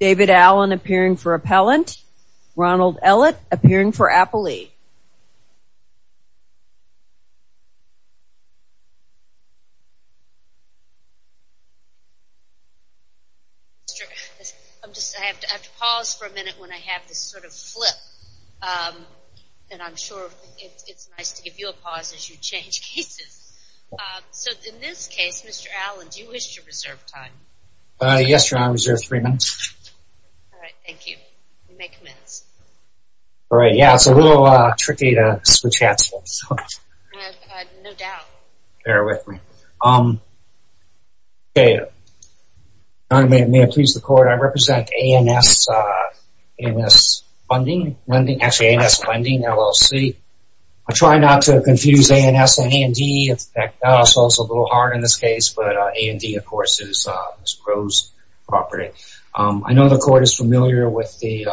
David Allen appearing for Appellant, Ronald Ellett appearing for Appellee. I have to pause for a minute when I have this sort of flip and I'm sure it's nice to give you a pause as you change cases. So in this case, Mr. Allen, do you wish to reserve time? Yes, your honor, I reserve three minutes. All right, thank you. You may commence. All right, yeah, it's a little tricky to switch hats. No doubt. Bear with me. May it please the court, I represent ANS Funding, actually ANS Funding, LLC. I try not to confuse ANS and AND. It's also a little hard in this case, but AND, of course, is Ms. Groves' property. I know the court is familiar with the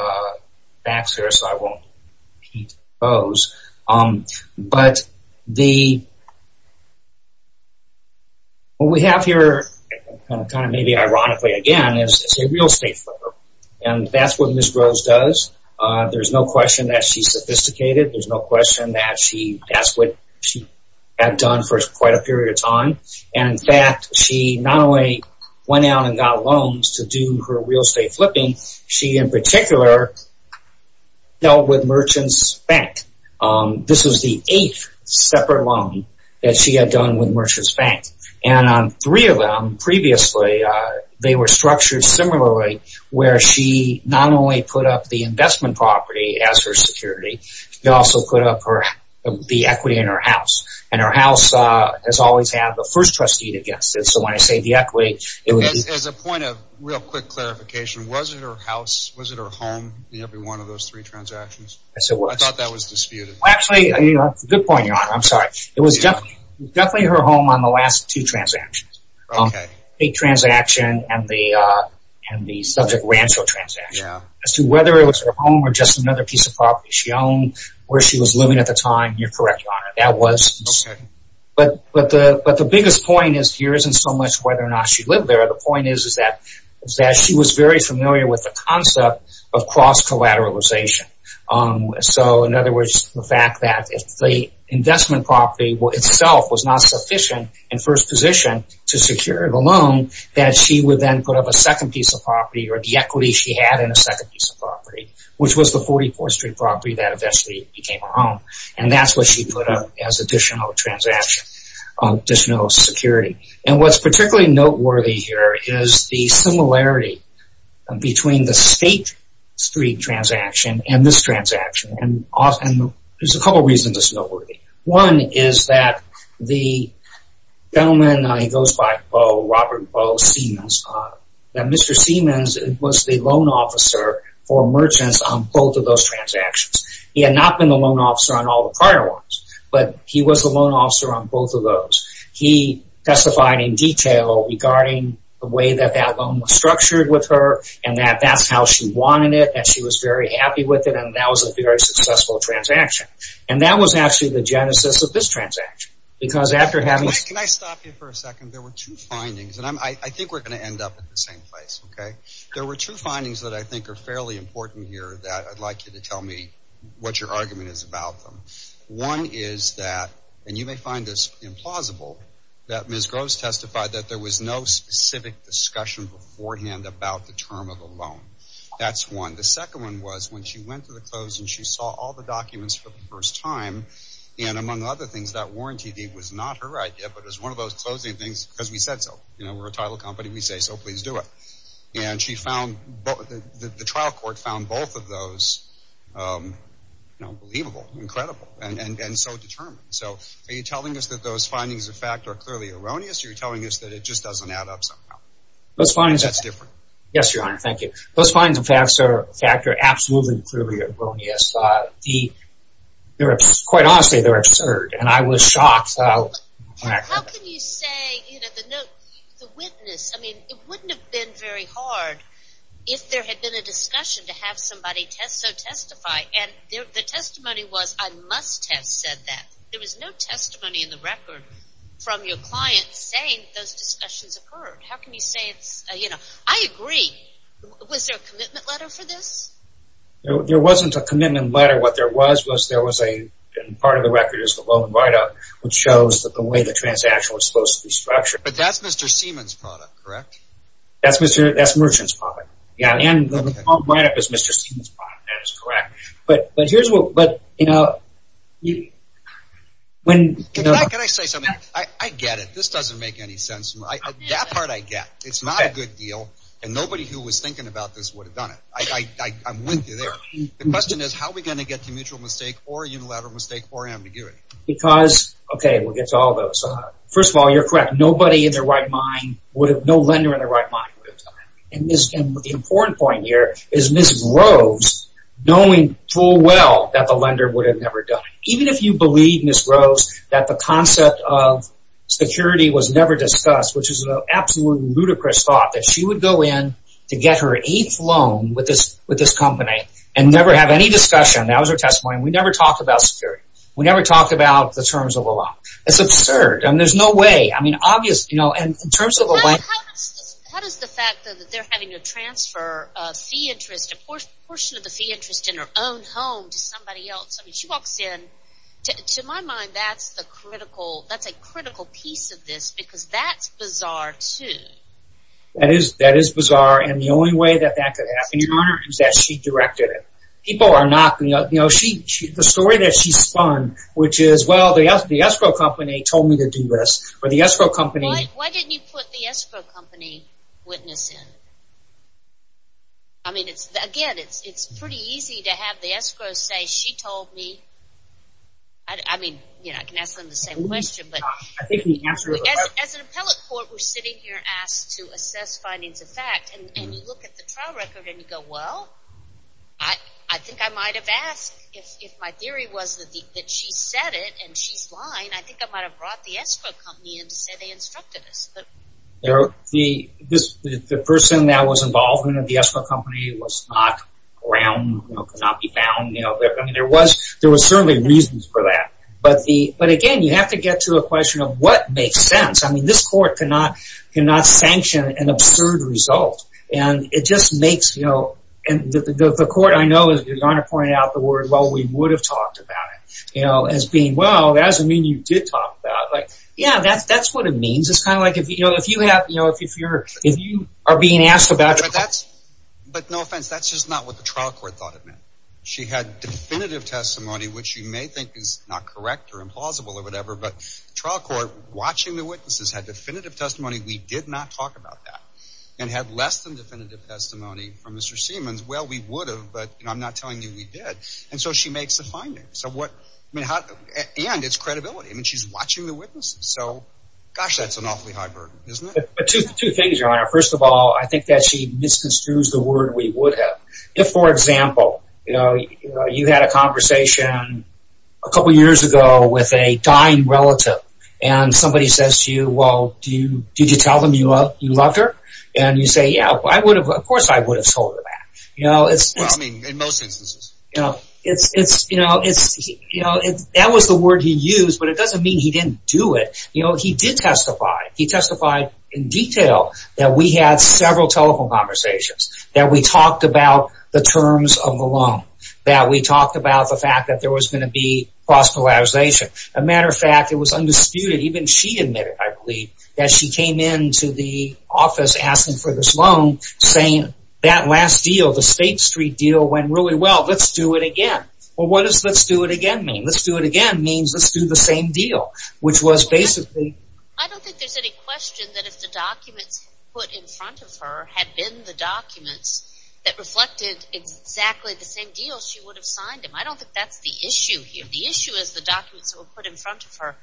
facts here, so I won't repeat those. But what we have here, kind of maybe ironically again, is a real estate flipper. And that's what Ms. Groves does. There's no question that she's sophisticated. There's no question that she does what she had done for quite a period of time. And in fact, she not only went out and got loans to do her real estate flipping, she in particular dealt with Merchant's Bank. This was the eighth separate loan that she had done with Merchant's Bank. And on three of them previously, they were structured similarly where she not only put up the investment property as her security, she also put up the equity in her house. And her house has always had the first trustee against it. So when I say the equity, it was... As a point of real quick clarification, was it her house, was it her home in every one of those three transactions? I thought that was disputed. Actually, that's a good point, Your Honor. I'm sorry. It was definitely her home on the last two transactions. The transaction and the subject rancho transaction. As to whether it was her home or just another piece of property she owned where she was living at the time, you're correct, Your Honor. That was... Okay. But the biggest point here isn't so much whether or not she lived there. The point is that she was very familiar with the concept of cross-collateralization. So in other words, the fact that if the investment property itself was not sufficient in first position to secure the loan, that she would then put up a second piece of property or the equity she had in a second piece of property, which was the 44th Street property that eventually became her home. And that's what she put up as additional transaction, additional security. And what's particularly noteworthy here is the similarity between the State Street transaction and this transaction. And there's a couple reasons it's noteworthy. One is that the gentleman, he goes by Bo, Robert Bo Siemens, that Mr. Siemens was the loan officer for merchants on both of those transactions. He had not been the loan officer on all the prior ones, but he was the loan officer on both of those. He testified in detail regarding the way that that loan was structured with her and that that's how she wanted it and she was very happy with it and that was a very successful transaction. And that was actually the genesis of this transaction because after having... Can I stop you for a second? There were two findings and I think we're going to end up at the same place, okay? There were two findings that I think are fairly important here that I'd like you to tell me what your argument is about them. One is that, and you may find this implausible, that Ms. Groves testified that there was no specific discussion beforehand about the term of the loan. That's one. And the second one was when she went to the close and she saw all the documents for the first time and among other things, that warranty deed was not her idea, but it was one of those closing things because we said so. You know, we're a title company. We say, so please do it. And she found, the trial court found both of those, you know, believable, incredible and so determined. So are you telling us that those findings of fact are clearly erroneous or are you telling us that it just doesn't add up somehow? That's different. Yes, Your Honor. Thank you. Those findings of fact are absolutely clearly erroneous. Quite honestly, they're absurd and I was shocked. How can you say, you know, the witness, I mean, it wouldn't have been very hard if there had been a discussion to have somebody so testify and the testimony was I must have said that. There was no testimony in the record from your client saying those discussions occurred. How can you say it's, you know, I agree. Was there a commitment letter for this? There wasn't a commitment letter. What there was, was there was a, and part of the record is the loan write-up, which shows that the way the transaction was supposed to be structured. But that's Mr. Seaman's product, correct? That's merchant's product. Yeah, and the loan write-up is Mr. Seaman's product. That is correct. But here's what, you know, when... Can I say something? I get it. This doesn't make any sense. That part I get. It's not a good deal and nobody who was thinking about this would have done it. I'm with you there. The question is how are we going to get to mutual mistake or unilateral mistake or ambiguity? Because, okay, we'll get to all those. First of all, you're correct. Nobody in their right mind would have, no lender in their right mind would have done it. And the important point here is Ms. Groves knowing full well that the lender would have never done it. Even if you believe, Ms. Groves, that the concept of security was never discussed, which is an absolutely ludicrous thought, that she would go in to get her eighth loan with this company and never have any discussion. That was her testimony. We never talked about security. We never talked about the terms of the loan. It's absurd. I mean, there's no way. I mean, obviously, you know, in terms of the way... How does the fact that they're having to transfer a fee interest, a portion of the fee interest in her own home to somebody else? I mean, she walks in. To my mind, that's a critical piece of this, because that's bizarre, too. That is bizarre. And the only way that that could happen is that she directed it. People are not... You know, the story that she spun, which is, well, the escrow company told me to do this, or the escrow company... Why didn't you put the escrow company witness in? I mean, again, it's pretty easy to have the escrow say, she told me... I mean, you know, I can ask them the same question, but... As an appellate court, we're sitting here asked to assess findings of fact, and you look at the trial record and you go, well, I think I might have asked. If my theory was that she said it and she's lying, I think I might have brought the escrow company in to say they instructed us. The person that was involved in the escrow company was not around, could not be found. I mean, there was certainly reasons for that. But again, you have to get to a question of what makes sense. I mean, this court cannot sanction an absurd result. And it just makes, you know... And the court, I know, is going to point out the word, well, we would have talked about it, as being, well, that doesn't mean you did talk about it. Yeah, that's what it means. Is this kind of like if you have, you know, if you are being asked about it... But no offense, that's just not what the trial court thought it meant. She had definitive testimony, which you may think is not correct or implausible or whatever, but the trial court, watching the witnesses, had definitive testimony. We did not talk about that. And had less than definitive testimony from Mr. Siemens. Well, we would have, but I'm not telling you we did. And so she makes the findings. And it's credibility. I mean, she's watching the witnesses. So, gosh, that's an awfully high burden, isn't it? Two things, Your Honor. First of all, I think that she misconstrues the word we would have. If, for example, you had a conversation a couple years ago with a dying relative, and somebody says to you, well, did you tell them you loved her? And you say, yeah, of course I would have told her that. Well, I mean, in most instances. That was the word he used, but it doesn't mean he didn't do it. He did testify. He testified in detail that we had several telephone conversations, that we talked about the terms of the loan, that we talked about the fact that there was going to be cross-polarization. As a matter of fact, it was undisputed. Even she admitted, I believe, that she came into the office asking for this loan, and saying that last deal, the State Street deal, went really well. Let's do it again. Well, what does let's do it again mean? Let's do it again means let's do the same deal, which was basically... I don't think there's any question that if the documents put in front of her had been the documents that reflected exactly the same deal, she would have signed them. I don't think that's the issue here. The issue is the documents that were put in front of her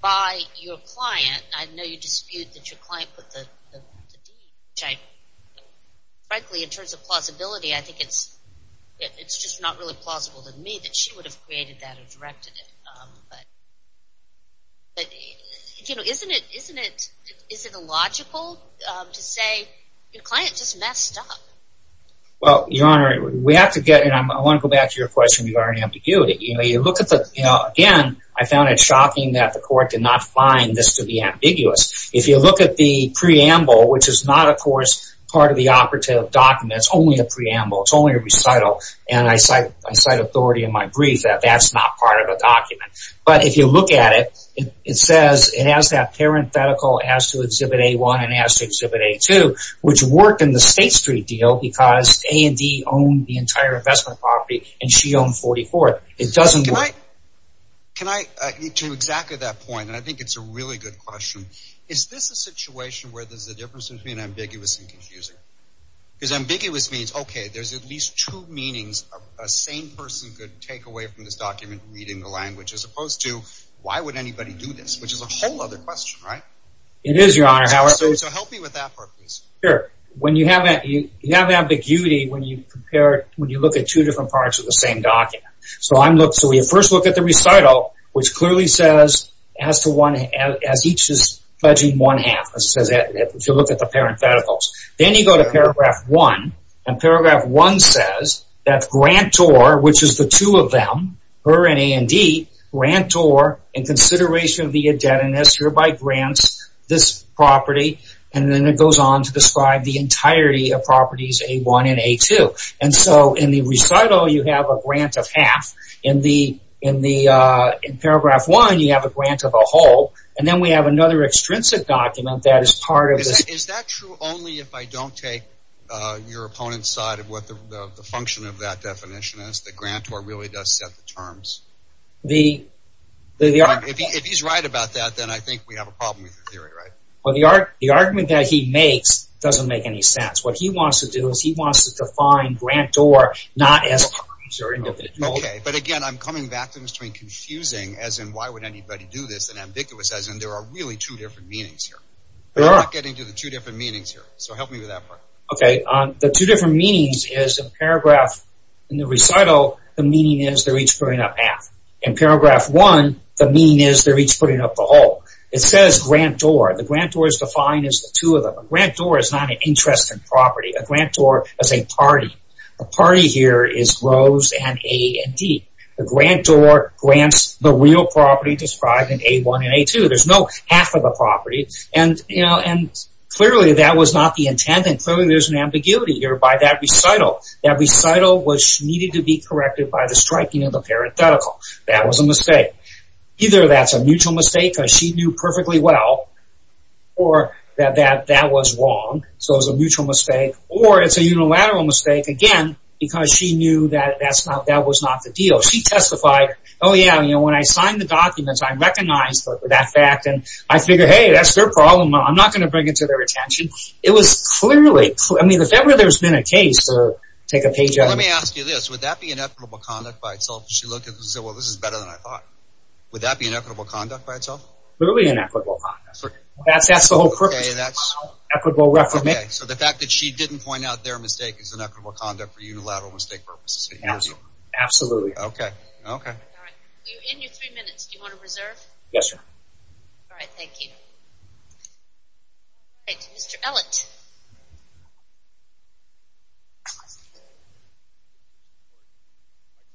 by your client. I know you dispute that your client put the deal in front of her. Frankly, in terms of plausibility, I think it's just not really plausible to me that she would have created that or directed it. But isn't it illogical to say your client just messed up? Well, Your Honor, we have to get... I want to go back to your question regarding ambiguity. Again, I found it shocking that the court did not find this to be ambiguous. If you look at the preamble, which is not, of course, part of the operative document, it's only a preamble, it's only a recital, and I cite authority in my brief that that's not part of a document. But if you look at it, it says it has that parenthetical as to Exhibit A-1 and as to Exhibit A-2, which worked in the State Street deal because A and D owned the entire investment property, and she owned 44th. It doesn't work. Can I – to exactly that point, and I think it's a really good question, is this a situation where there's a difference between ambiguous and confusing? Because ambiguous means, okay, there's at least two meanings a sane person could take away from this document reading the language as opposed to why would anybody do this, which is a whole other question, right? It is, Your Honor. So help me with that part, please. Sure. You have ambiguity when you look at two different parts of the same document. So we first look at the recital, which clearly says as each is pledging one half. It says that if you look at the parentheticals. Then you go to Paragraph 1, and Paragraph 1 says that grantor, which is the two of them, her and A and D, grantor in consideration of the indebtedness hereby grants this property, and then it goes on to describe the entirety of properties A1 and A2. And so in the recital, you have a grant of half. In Paragraph 1, you have a grant of a whole. And then we have another extrinsic document that is part of this. Is that true only if I don't take your opponent's side of what the function of that definition is, that grantor really does set the terms? If he's right about that, then I think we have a problem with the theory, right? Well, the argument that he makes doesn't make any sense. What he wants to do is he wants to define grantor not as terms or individual. Okay, but again, I'm coming back to this between confusing as in why would anybody do this and ambiguous as in there are really two different meanings here. I'm not getting to the two different meanings here, so help me with that part. Okay, the two different meanings is in Paragraph, in the recital, the meaning is they're each putting up half. In Paragraph 1, the meaning is they're each putting up the whole. It says grantor. The grantor is defined as the two of them. A grantor is not an interest in property. A grantor is a party. The party here is rows and A and D. The grantor grants the real property described in A1 and A2. There's no half of the property, and clearly that was not the intent, and clearly there's an ambiguity here by that recital. That recital needed to be corrected by the striping of the parenthetical. That was a mistake. Either that's a mutual mistake because she knew perfectly well that that was wrong, so it was a mutual mistake, or it's a unilateral mistake, again, because she knew that that was not the deal. She testified, oh, yeah, when I signed the documents, I recognized that fact, and I figured, hey, that's their problem. I'm not going to bring it to their attention. It was clearly, I mean, if ever there's been a case or take a page out of it. Let me ask you this. Would that be inevitable conduct by itself? She looked at it and said, well, this is better than I thought. Would that be inevitable conduct by itself? Clearly inevitable conduct. That's the whole purpose. Okay, so the fact that she didn't point out their mistake is inevitable conduct for unilateral mistake purposes. Absolutely. Okay. All right. You're in your three minutes. Do you want to reserve? Yes, ma'am. All right. Thank you. Thank you. Mr. Ellett.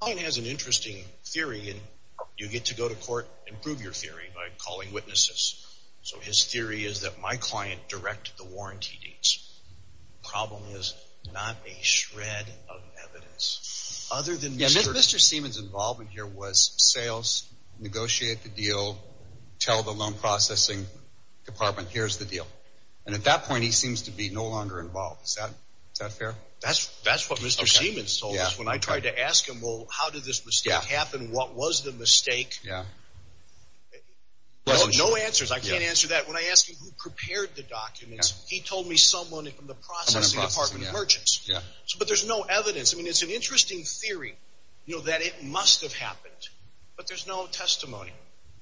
My client has an interesting theory, and you get to go to court and prove your theory by calling witnesses. So his theory is that my client directed the warranty dates. The problem is not a shred of evidence. Yeah, Mr. Seaman's involvement here was sales, negotiate the deal, tell the loan processing department, here's the deal. And at that point, he seems to be no longer involved. Is that fair? That's what Mr. Seaman told us when I tried to ask him, well, how did this mistake happen? What was the mistake? Yeah. No answers. I can't answer that. When I asked him who prepared the documents, he told me someone from the processing department, merchants. Yeah. But there's no evidence. I mean, it's an interesting theory that it must have happened, but there's no testimony.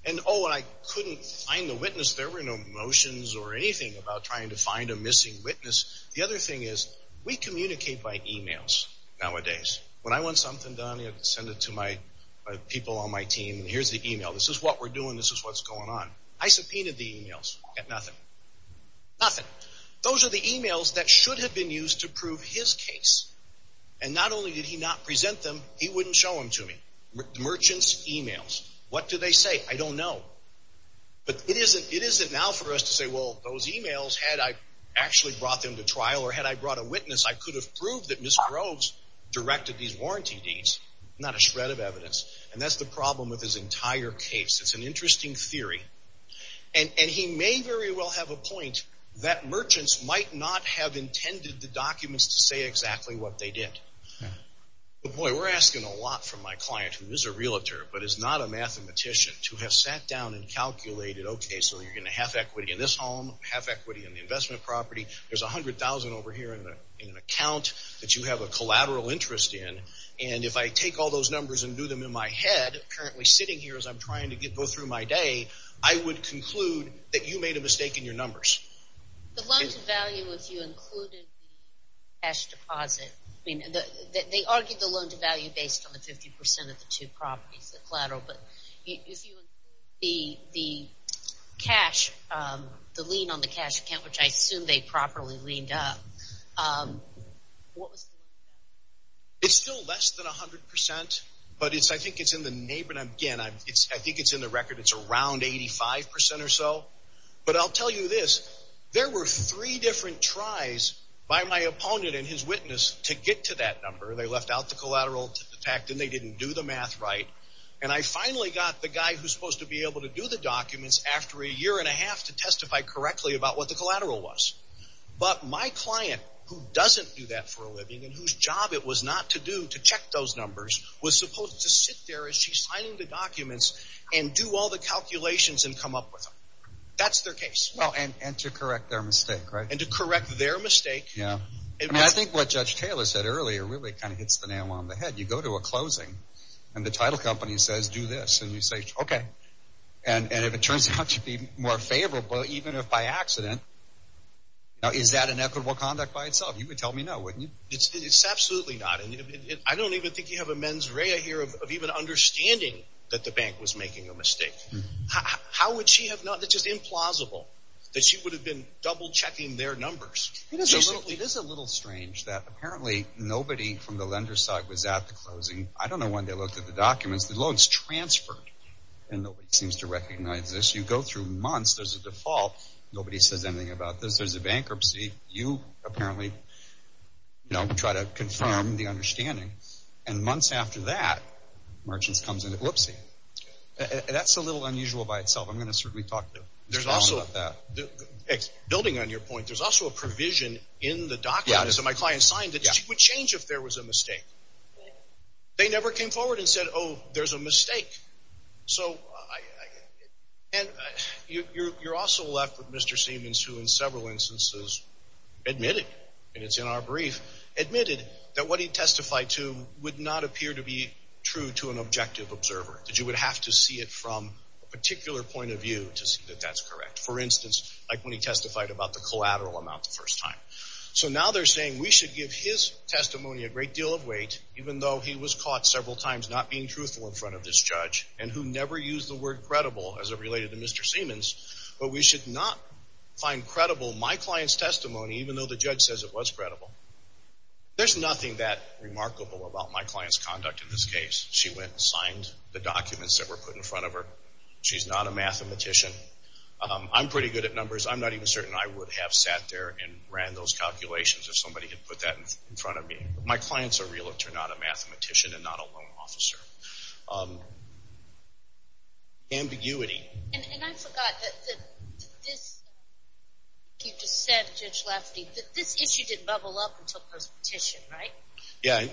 And, oh, I couldn't find the witness. There were no motions or anything about trying to find a missing witness. The other thing is we communicate by e-mails nowadays. When I want something done, I send it to my people on my team. Here's the e-mail. This is what we're doing. This is what's going on. I subpoenaed the e-mails. Got nothing. Nothing. Those are the e-mails that should have been used to prove his case. Merchants' e-mails. What do they say? I don't know. But it isn't now for us to say, well, those e-mails, had I actually brought them to trial or had I brought a witness, I could have proved that Mr. Groves directed these warranty deeds. Not a shred of evidence. And that's the problem with his entire case. It's an interesting theory. And he may very well have a point that merchants might not have intended the documents to say exactly what they did. Boy, we're asking a lot from my client, who is a realtor but is not a mathematician, to have sat down and calculated, okay, so you're going to have equity in this home, have equity in the investment property. There's $100,000 over here in an account that you have a collateral interest in. And if I take all those numbers and do them in my head, currently sitting here as I'm trying to go through my day, I would conclude that you made a mistake in your numbers. The loan-to-value, if you included the cash deposit, they argued the loan-to-value based on the 50% of the two properties, the collateral. But if you include the cash, the lien on the cash account, which I assume they properly liened up, what was the number? It's still less than 100%, but I think it's in the neighborhood. Again, I think it's in the record. It's around 85% or so. But I'll tell you this, there were three different tries by my opponent and his witness to get to that number. They left out the collateral to the fact, and they didn't do the math right. And I finally got the guy who's supposed to be able to do the documents after a year and a half to testify correctly about what the collateral was. But my client, who doesn't do that for a living and whose job it was not to do to check those numbers, was supposed to sit there as she's signing the documents and do all the calculations and come up with them. That's their case. Well, and to correct their mistake, right? And to correct their mistake. Yeah. I mean, I think what Judge Taylor said earlier really kind of hits the nail on the head. You go to a closing, and the title company says, do this, and you say, okay. And if it turns out to be more favorable, even if by accident, is that an equitable conduct by itself? You could tell me no, wouldn't you? It's absolutely not. I don't even think you have a mens rea here of even understanding that the bank was making a mistake. How would she have not? It's just implausible that she would have been double-checking their numbers. It is a little strange that apparently nobody from the lender's side was at the closing. I don't know when they looked at the documents. The loan's transferred, and nobody seems to recognize this. You go through months. There's a default. Nobody says anything about this. There's a bankruptcy. You apparently try to confirm the understanding. And months after that, merchants come in and say, whoopsie. That's a little unusual by itself. I'm going to certainly talk to Mr. Allen about that. Building on your point, there's also a provision in the documents that my client signed that she would change if there was a mistake. They never came forward and said, oh, there's a mistake. And you're also left with Mr. Siemens, who in several instances admitted, and it's in our brief, admitted that what he testified to would not appear to be true to an objective observer, that you would have to see it from a particular point of view to see that that's correct. For instance, like when he testified about the collateral amount the first time. So now they're saying we should give his testimony a great deal of weight, even though he was caught several times not being truthful in front of this judge, and who never used the word credible as it related to Mr. Siemens, but we should not find credible my client's testimony, even though the judge says it was credible. There's nothing that remarkable about my client's conduct in this case. She went and signed the documents that were put in front of her. She's not a mathematician. I'm pretty good at numbers. I'm not even certain I would have sat there and ran those calculations if somebody had put that in front of me. My clients are real. They're not a mathematician and not a loan officer. Ambiguity. And I forgot that this, you just said, Judge Lefty, that this issue didn't bubble up until post-petition, right? Yeah.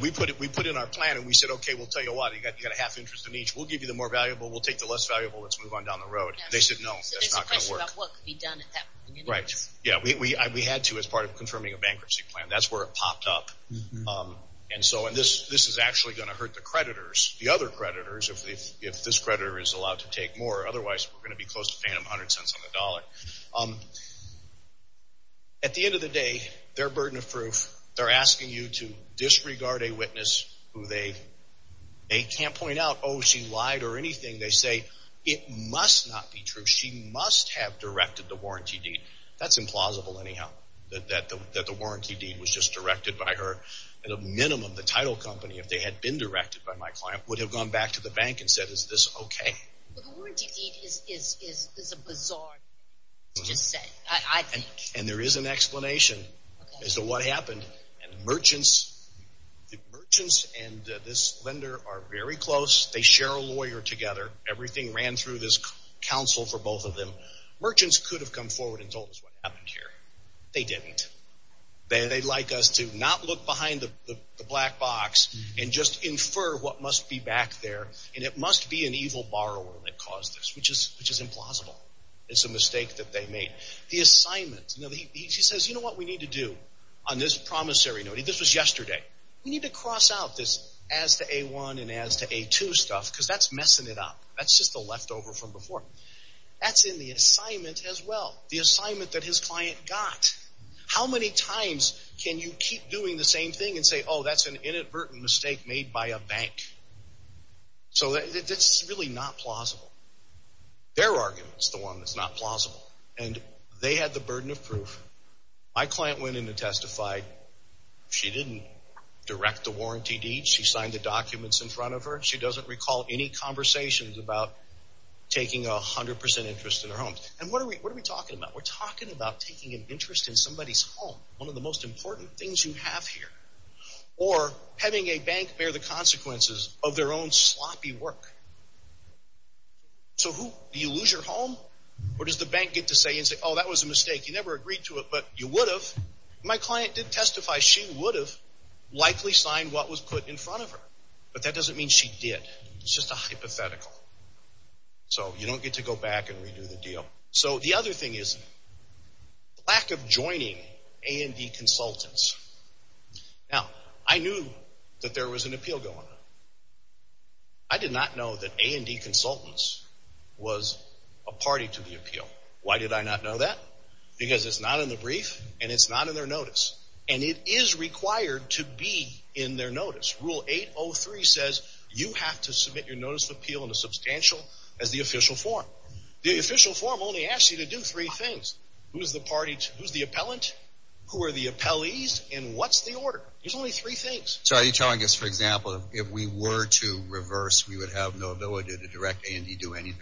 We put in our plan, and we said, okay, we'll tell you what. You've got a half interest in each. We'll give you the more valuable. We'll take the less valuable. Let's move on down the road. They said, no, that's not going to work. So there's a question about what could be done at that point. Right. Yeah, we had to as part of confirming a bankruptcy plan. That's where it popped up. And so this is actually going to hurt the creditors, the other creditors, if this creditor is allowed to take more. Otherwise, we're going to be close to paying them 100 cents on the dollar. At the end of the day, they're burden of proof. They're asking you to disregard a witness who they can't point out, oh, she lied or anything. They say, it must not be true. She must have directed the warranty deed. That's implausible, anyhow, that the warranty deed was just directed by her. At a minimum, the title company, if they had been directed by my client, would have gone back to the bank and said, is this okay? But the warranty deed is a bizarre thing to just say, I think. And there is an explanation as to what happened. And the merchants and this lender are very close. They share a lawyer together. Everything ran through this counsel for both of them. Merchants could have come forward and told us what happened here. They didn't. They'd like us to not look behind the black box and just infer what must be back there. And it must be an evil borrower that caused this, which is implausible. It's a mistake that they made. The assignment, he says, you know what we need to do on this promissory note? This was yesterday. We need to cross out this as to A1 and as to A2 stuff because that's messing it up. That's just the leftover from before. That's in the assignment as well, the assignment that his client got. How many times can you keep doing the same thing and say, oh, that's an inadvertent mistake made by a bank? So it's really not plausible. Their argument is the one that's not plausible. And they had the burden of proof. My client went in and testified. She didn't direct the warranty deed. She signed the documents in front of her. She doesn't recall any conversations about taking 100% interest in her home. And what are we talking about? We're talking about taking an interest in somebody's home, one of the most important things you have here, or having a bank bear the consequences of their own sloppy work. So do you lose your home? Or does the bank get to say, oh, that was a mistake. You never agreed to it, but you would have. My client did testify she would have likely signed what was put in front of her. But that doesn't mean she did. It's just a hypothetical. So you don't get to go back and redo the deal. So the other thing is lack of joining A&D consultants. Now, I knew that there was an appeal going on. I did not know that A&D consultants was a party to the appeal. Why did I not know that? Because it's not in the brief and it's not in their notice. And it is required to be in their notice. Rule 803 says you have to submit your notice of appeal in the substantial as the official form. The official form only asks you to do three things. Who's the appellant? Who are the appellees? And what's the order? There's only three things. So are you telling us, for example, if we were to reverse, we would have no ability to direct A&D to do anything?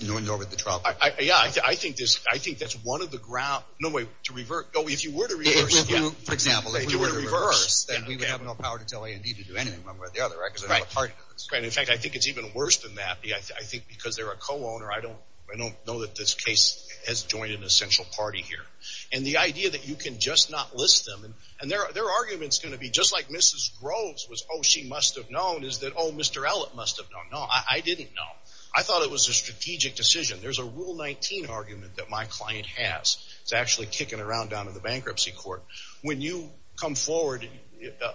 Yeah, I think that's one of the grounds. No, wait, to reverse. Oh, if you were to reverse. For example, if you were to reverse, then we would have no power to tell A&D to do anything one way or the other, because they're not a party to this. Right. In fact, I think it's even worse than that. I think because they're a co-owner, I don't know that this case has joined an essential party here. And the idea that you can just not list them, and their argument is going to be just like Mrs. Groves was, oh, she must have known, is that, oh, Mr. Ellett must have known. No, I didn't know. I thought it was a strategic decision. There's a Rule 19 argument that my client has. It's actually kicking around down in the bankruptcy court. When you come forward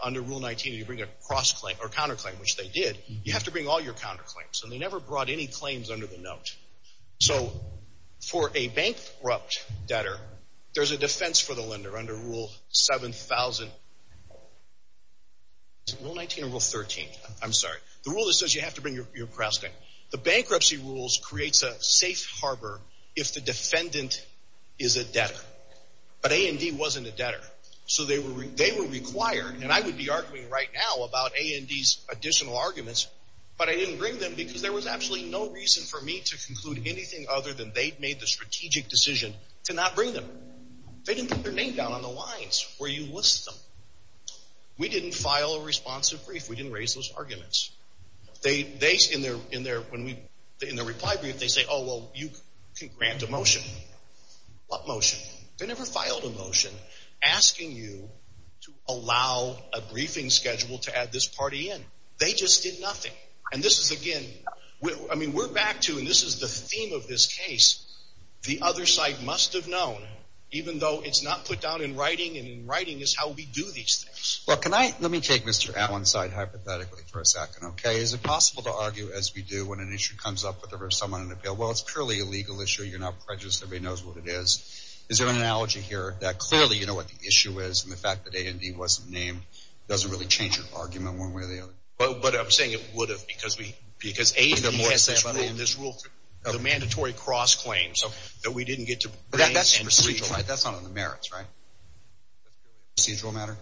under Rule 19 and you bring a counterclaim, which they did, you have to bring all your counterclaims. And they never brought any claims under the note. So for a bankrupt debtor, there's a defense for the lender under Rule 7,000. Is it Rule 19 or Rule 13? I'm sorry. The rule that says you have to bring your cross-debt. The bankruptcy rules creates a safe harbor if the defendant is a debtor. But A&D wasn't a debtor. So they were required, and I would be arguing right now about A&D's additional arguments, but I didn't bring them because there was absolutely no reason for me to conclude anything other than they'd made the strategic decision to not bring them. They didn't put their name down on the lines where you list them. We didn't file a responsive brief. We didn't raise those arguments. In their reply brief, they say, oh, well, you can grant a motion. What motion? They never filed a motion asking you to allow a briefing schedule to add this party in. They just did nothing. And this is, again, I mean, we're back to, and this is the theme of this case, the other side must have known, even though it's not put down in writing, and in writing is how we do these things. Well, can I, let me take Mr. Allen's side hypothetically for a second, okay? Is it possible to argue, as we do, when an issue comes up, well, it's purely a legal issue. You're not prejudiced. Everybody knows what it is. Is there an analogy here that clearly you know what the issue is, and the fact that A&D wasn't named doesn't really change your argument one way or the other? But I'm saying it would have because A&D has this rule, the mandatory cross-claims, that we didn't get to bring. That's procedural, right? That's not on the merits, right? Procedural matter?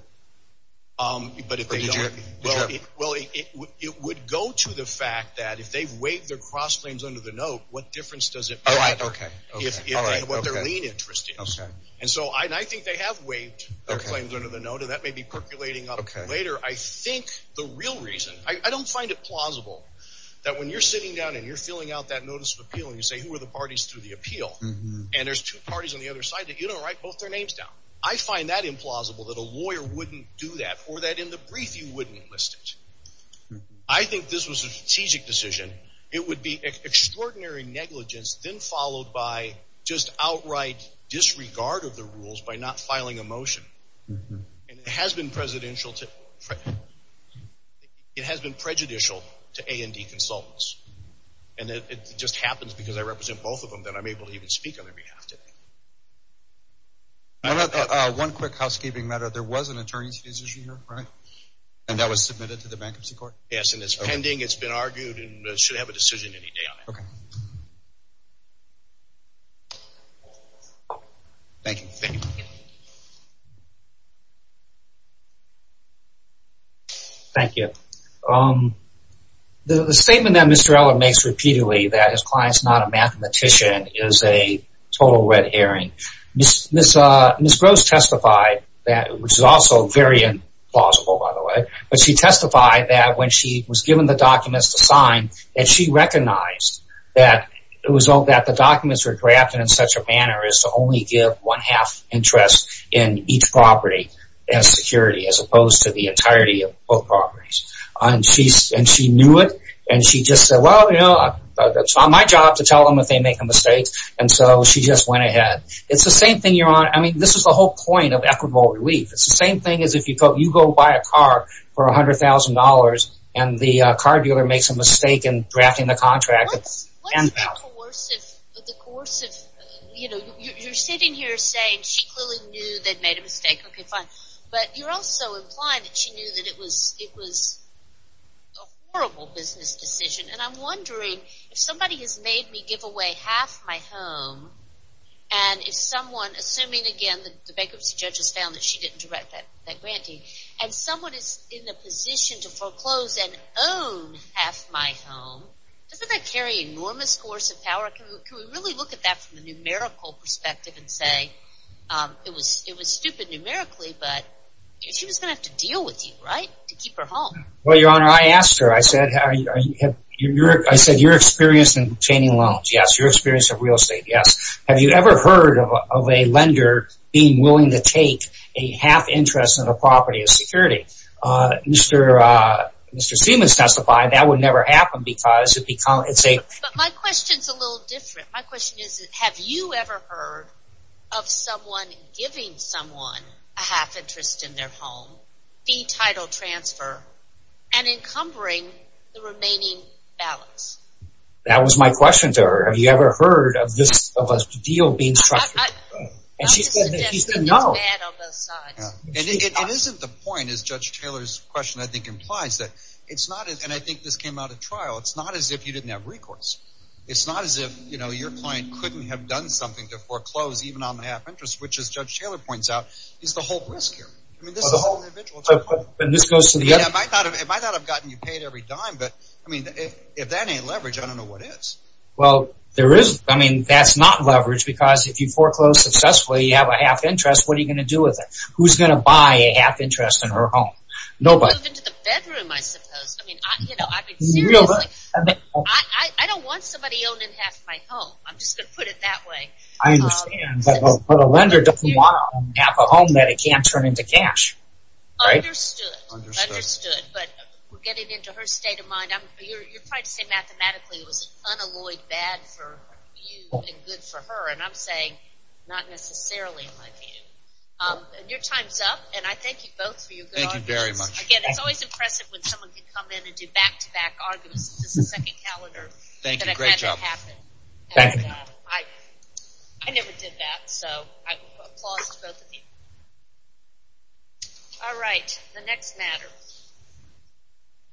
Or did you ever? Well, it would go to the fact that if they've waived their cross-claims under the note, what difference does it make what their lien interest is? And so I think they have waived their claims under the note, and that may be percolating up later. I think the real reason, I don't find it plausible that when you're sitting down and you're filling out that notice of appeal and you say, who are the parties to the appeal, and there's two parties on the other side that you don't write both their names down. I find that implausible, that a lawyer wouldn't do that, or that in the brief you wouldn't enlist it. I think this was a strategic decision. It would be extraordinary negligence, then followed by just outright disregard of the rules by not filing a motion. And it has been prejudicial to A&D consultants, and it just happens because I represent both of them that I'm able to even speak on their behalf today. One quick housekeeping matter. There was an attorney's decision here, right? And that was submitted to the bankruptcy court? Yes, and it's pending. It's been argued and should have a decision any day on it. Okay. Thank you. Thank you. Thank you. The statement that Mr. Eller makes repeatedly that his client's not a mathematician is a total red herring. Ms. Gross testified that it was also very implausible, by the way, but she testified that when she was given the documents to sign, that she recognized that the documents were drafted in such a manner as to only give one-half interest in each property and security as opposed to the entirety of both properties. And she knew it, and she just said, Well, you know, it's not my job to tell them if they make a mistake, and so she just went ahead. It's the same thing you're on. I mean, this is the whole point of equitable relief. It's the same thing as if you go buy a car for $100,000 and the car dealer makes a mistake in drafting the contract. What's the coercive – you're sitting here saying she clearly knew they'd made a mistake. Okay, fine. But you're also implying that she knew that it was a horrible business decision, and I'm wondering if somebody has made me give away half my home and if someone, assuming again the bankruptcy judge has found that she didn't direct that grantee, and someone is in the position to foreclose and own half my home, doesn't that carry enormous coercive power? Can we really look at that from a numerical perspective and say it was stupid numerically, but she was going to have to deal with you, right, to keep her home? Well, Your Honor, I asked her. I said, you're experienced in obtaining loans. Yes, you're experienced in real estate. Yes. Have you ever heard of a lender being willing to take a half interest on a property of security? Mr. Siemens testified that would never happen because it's a – But my question is a little different. My question is have you ever heard of someone giving someone a half interest in their home, fee title transfer, and encumbering the remaining balance? That was my question to her. Have you ever heard of a deal being structured? I'm just suggesting that it's bad on both sides. It isn't the point, as Judge Taylor's question I think implies, that it's not – and I think this came out at trial. It's not as if you didn't have recourse. It's not as if your client couldn't have done something to foreclose even on the half interest, which, as Judge Taylor points out, is the whole risk here. I mean this is the whole individual thing. And this goes to the other – Yeah, if I thought I've gotten you paid every dime, but I mean if that ain't leverage, I don't know what is. Well, there is – I mean that's not leverage because if you foreclose successfully, you have a half interest. What are you going to do with it? Who's going to buy a half interest in her home? Nobody. Or move into the bedroom I suppose. I mean I've been seriously – I don't want somebody owning half my home. I'm just going to put it that way. I understand. But a lender doesn't want to own half a home that he can't turn into cash. Understood. Understood. But we're getting into her state of mind. You're trying to say mathematically it was unalloyed bad for you and good for her, and I'm saying not necessarily in my view. Your time is up, and I thank you both for your good arguments. Thank you very much. Again, it's always impressive when someone can come in and do back-to-back arguments. This is the second calendar that I've had to happen. Thank you. Great job. I never did that, so applause to both of you. All right. The next matter.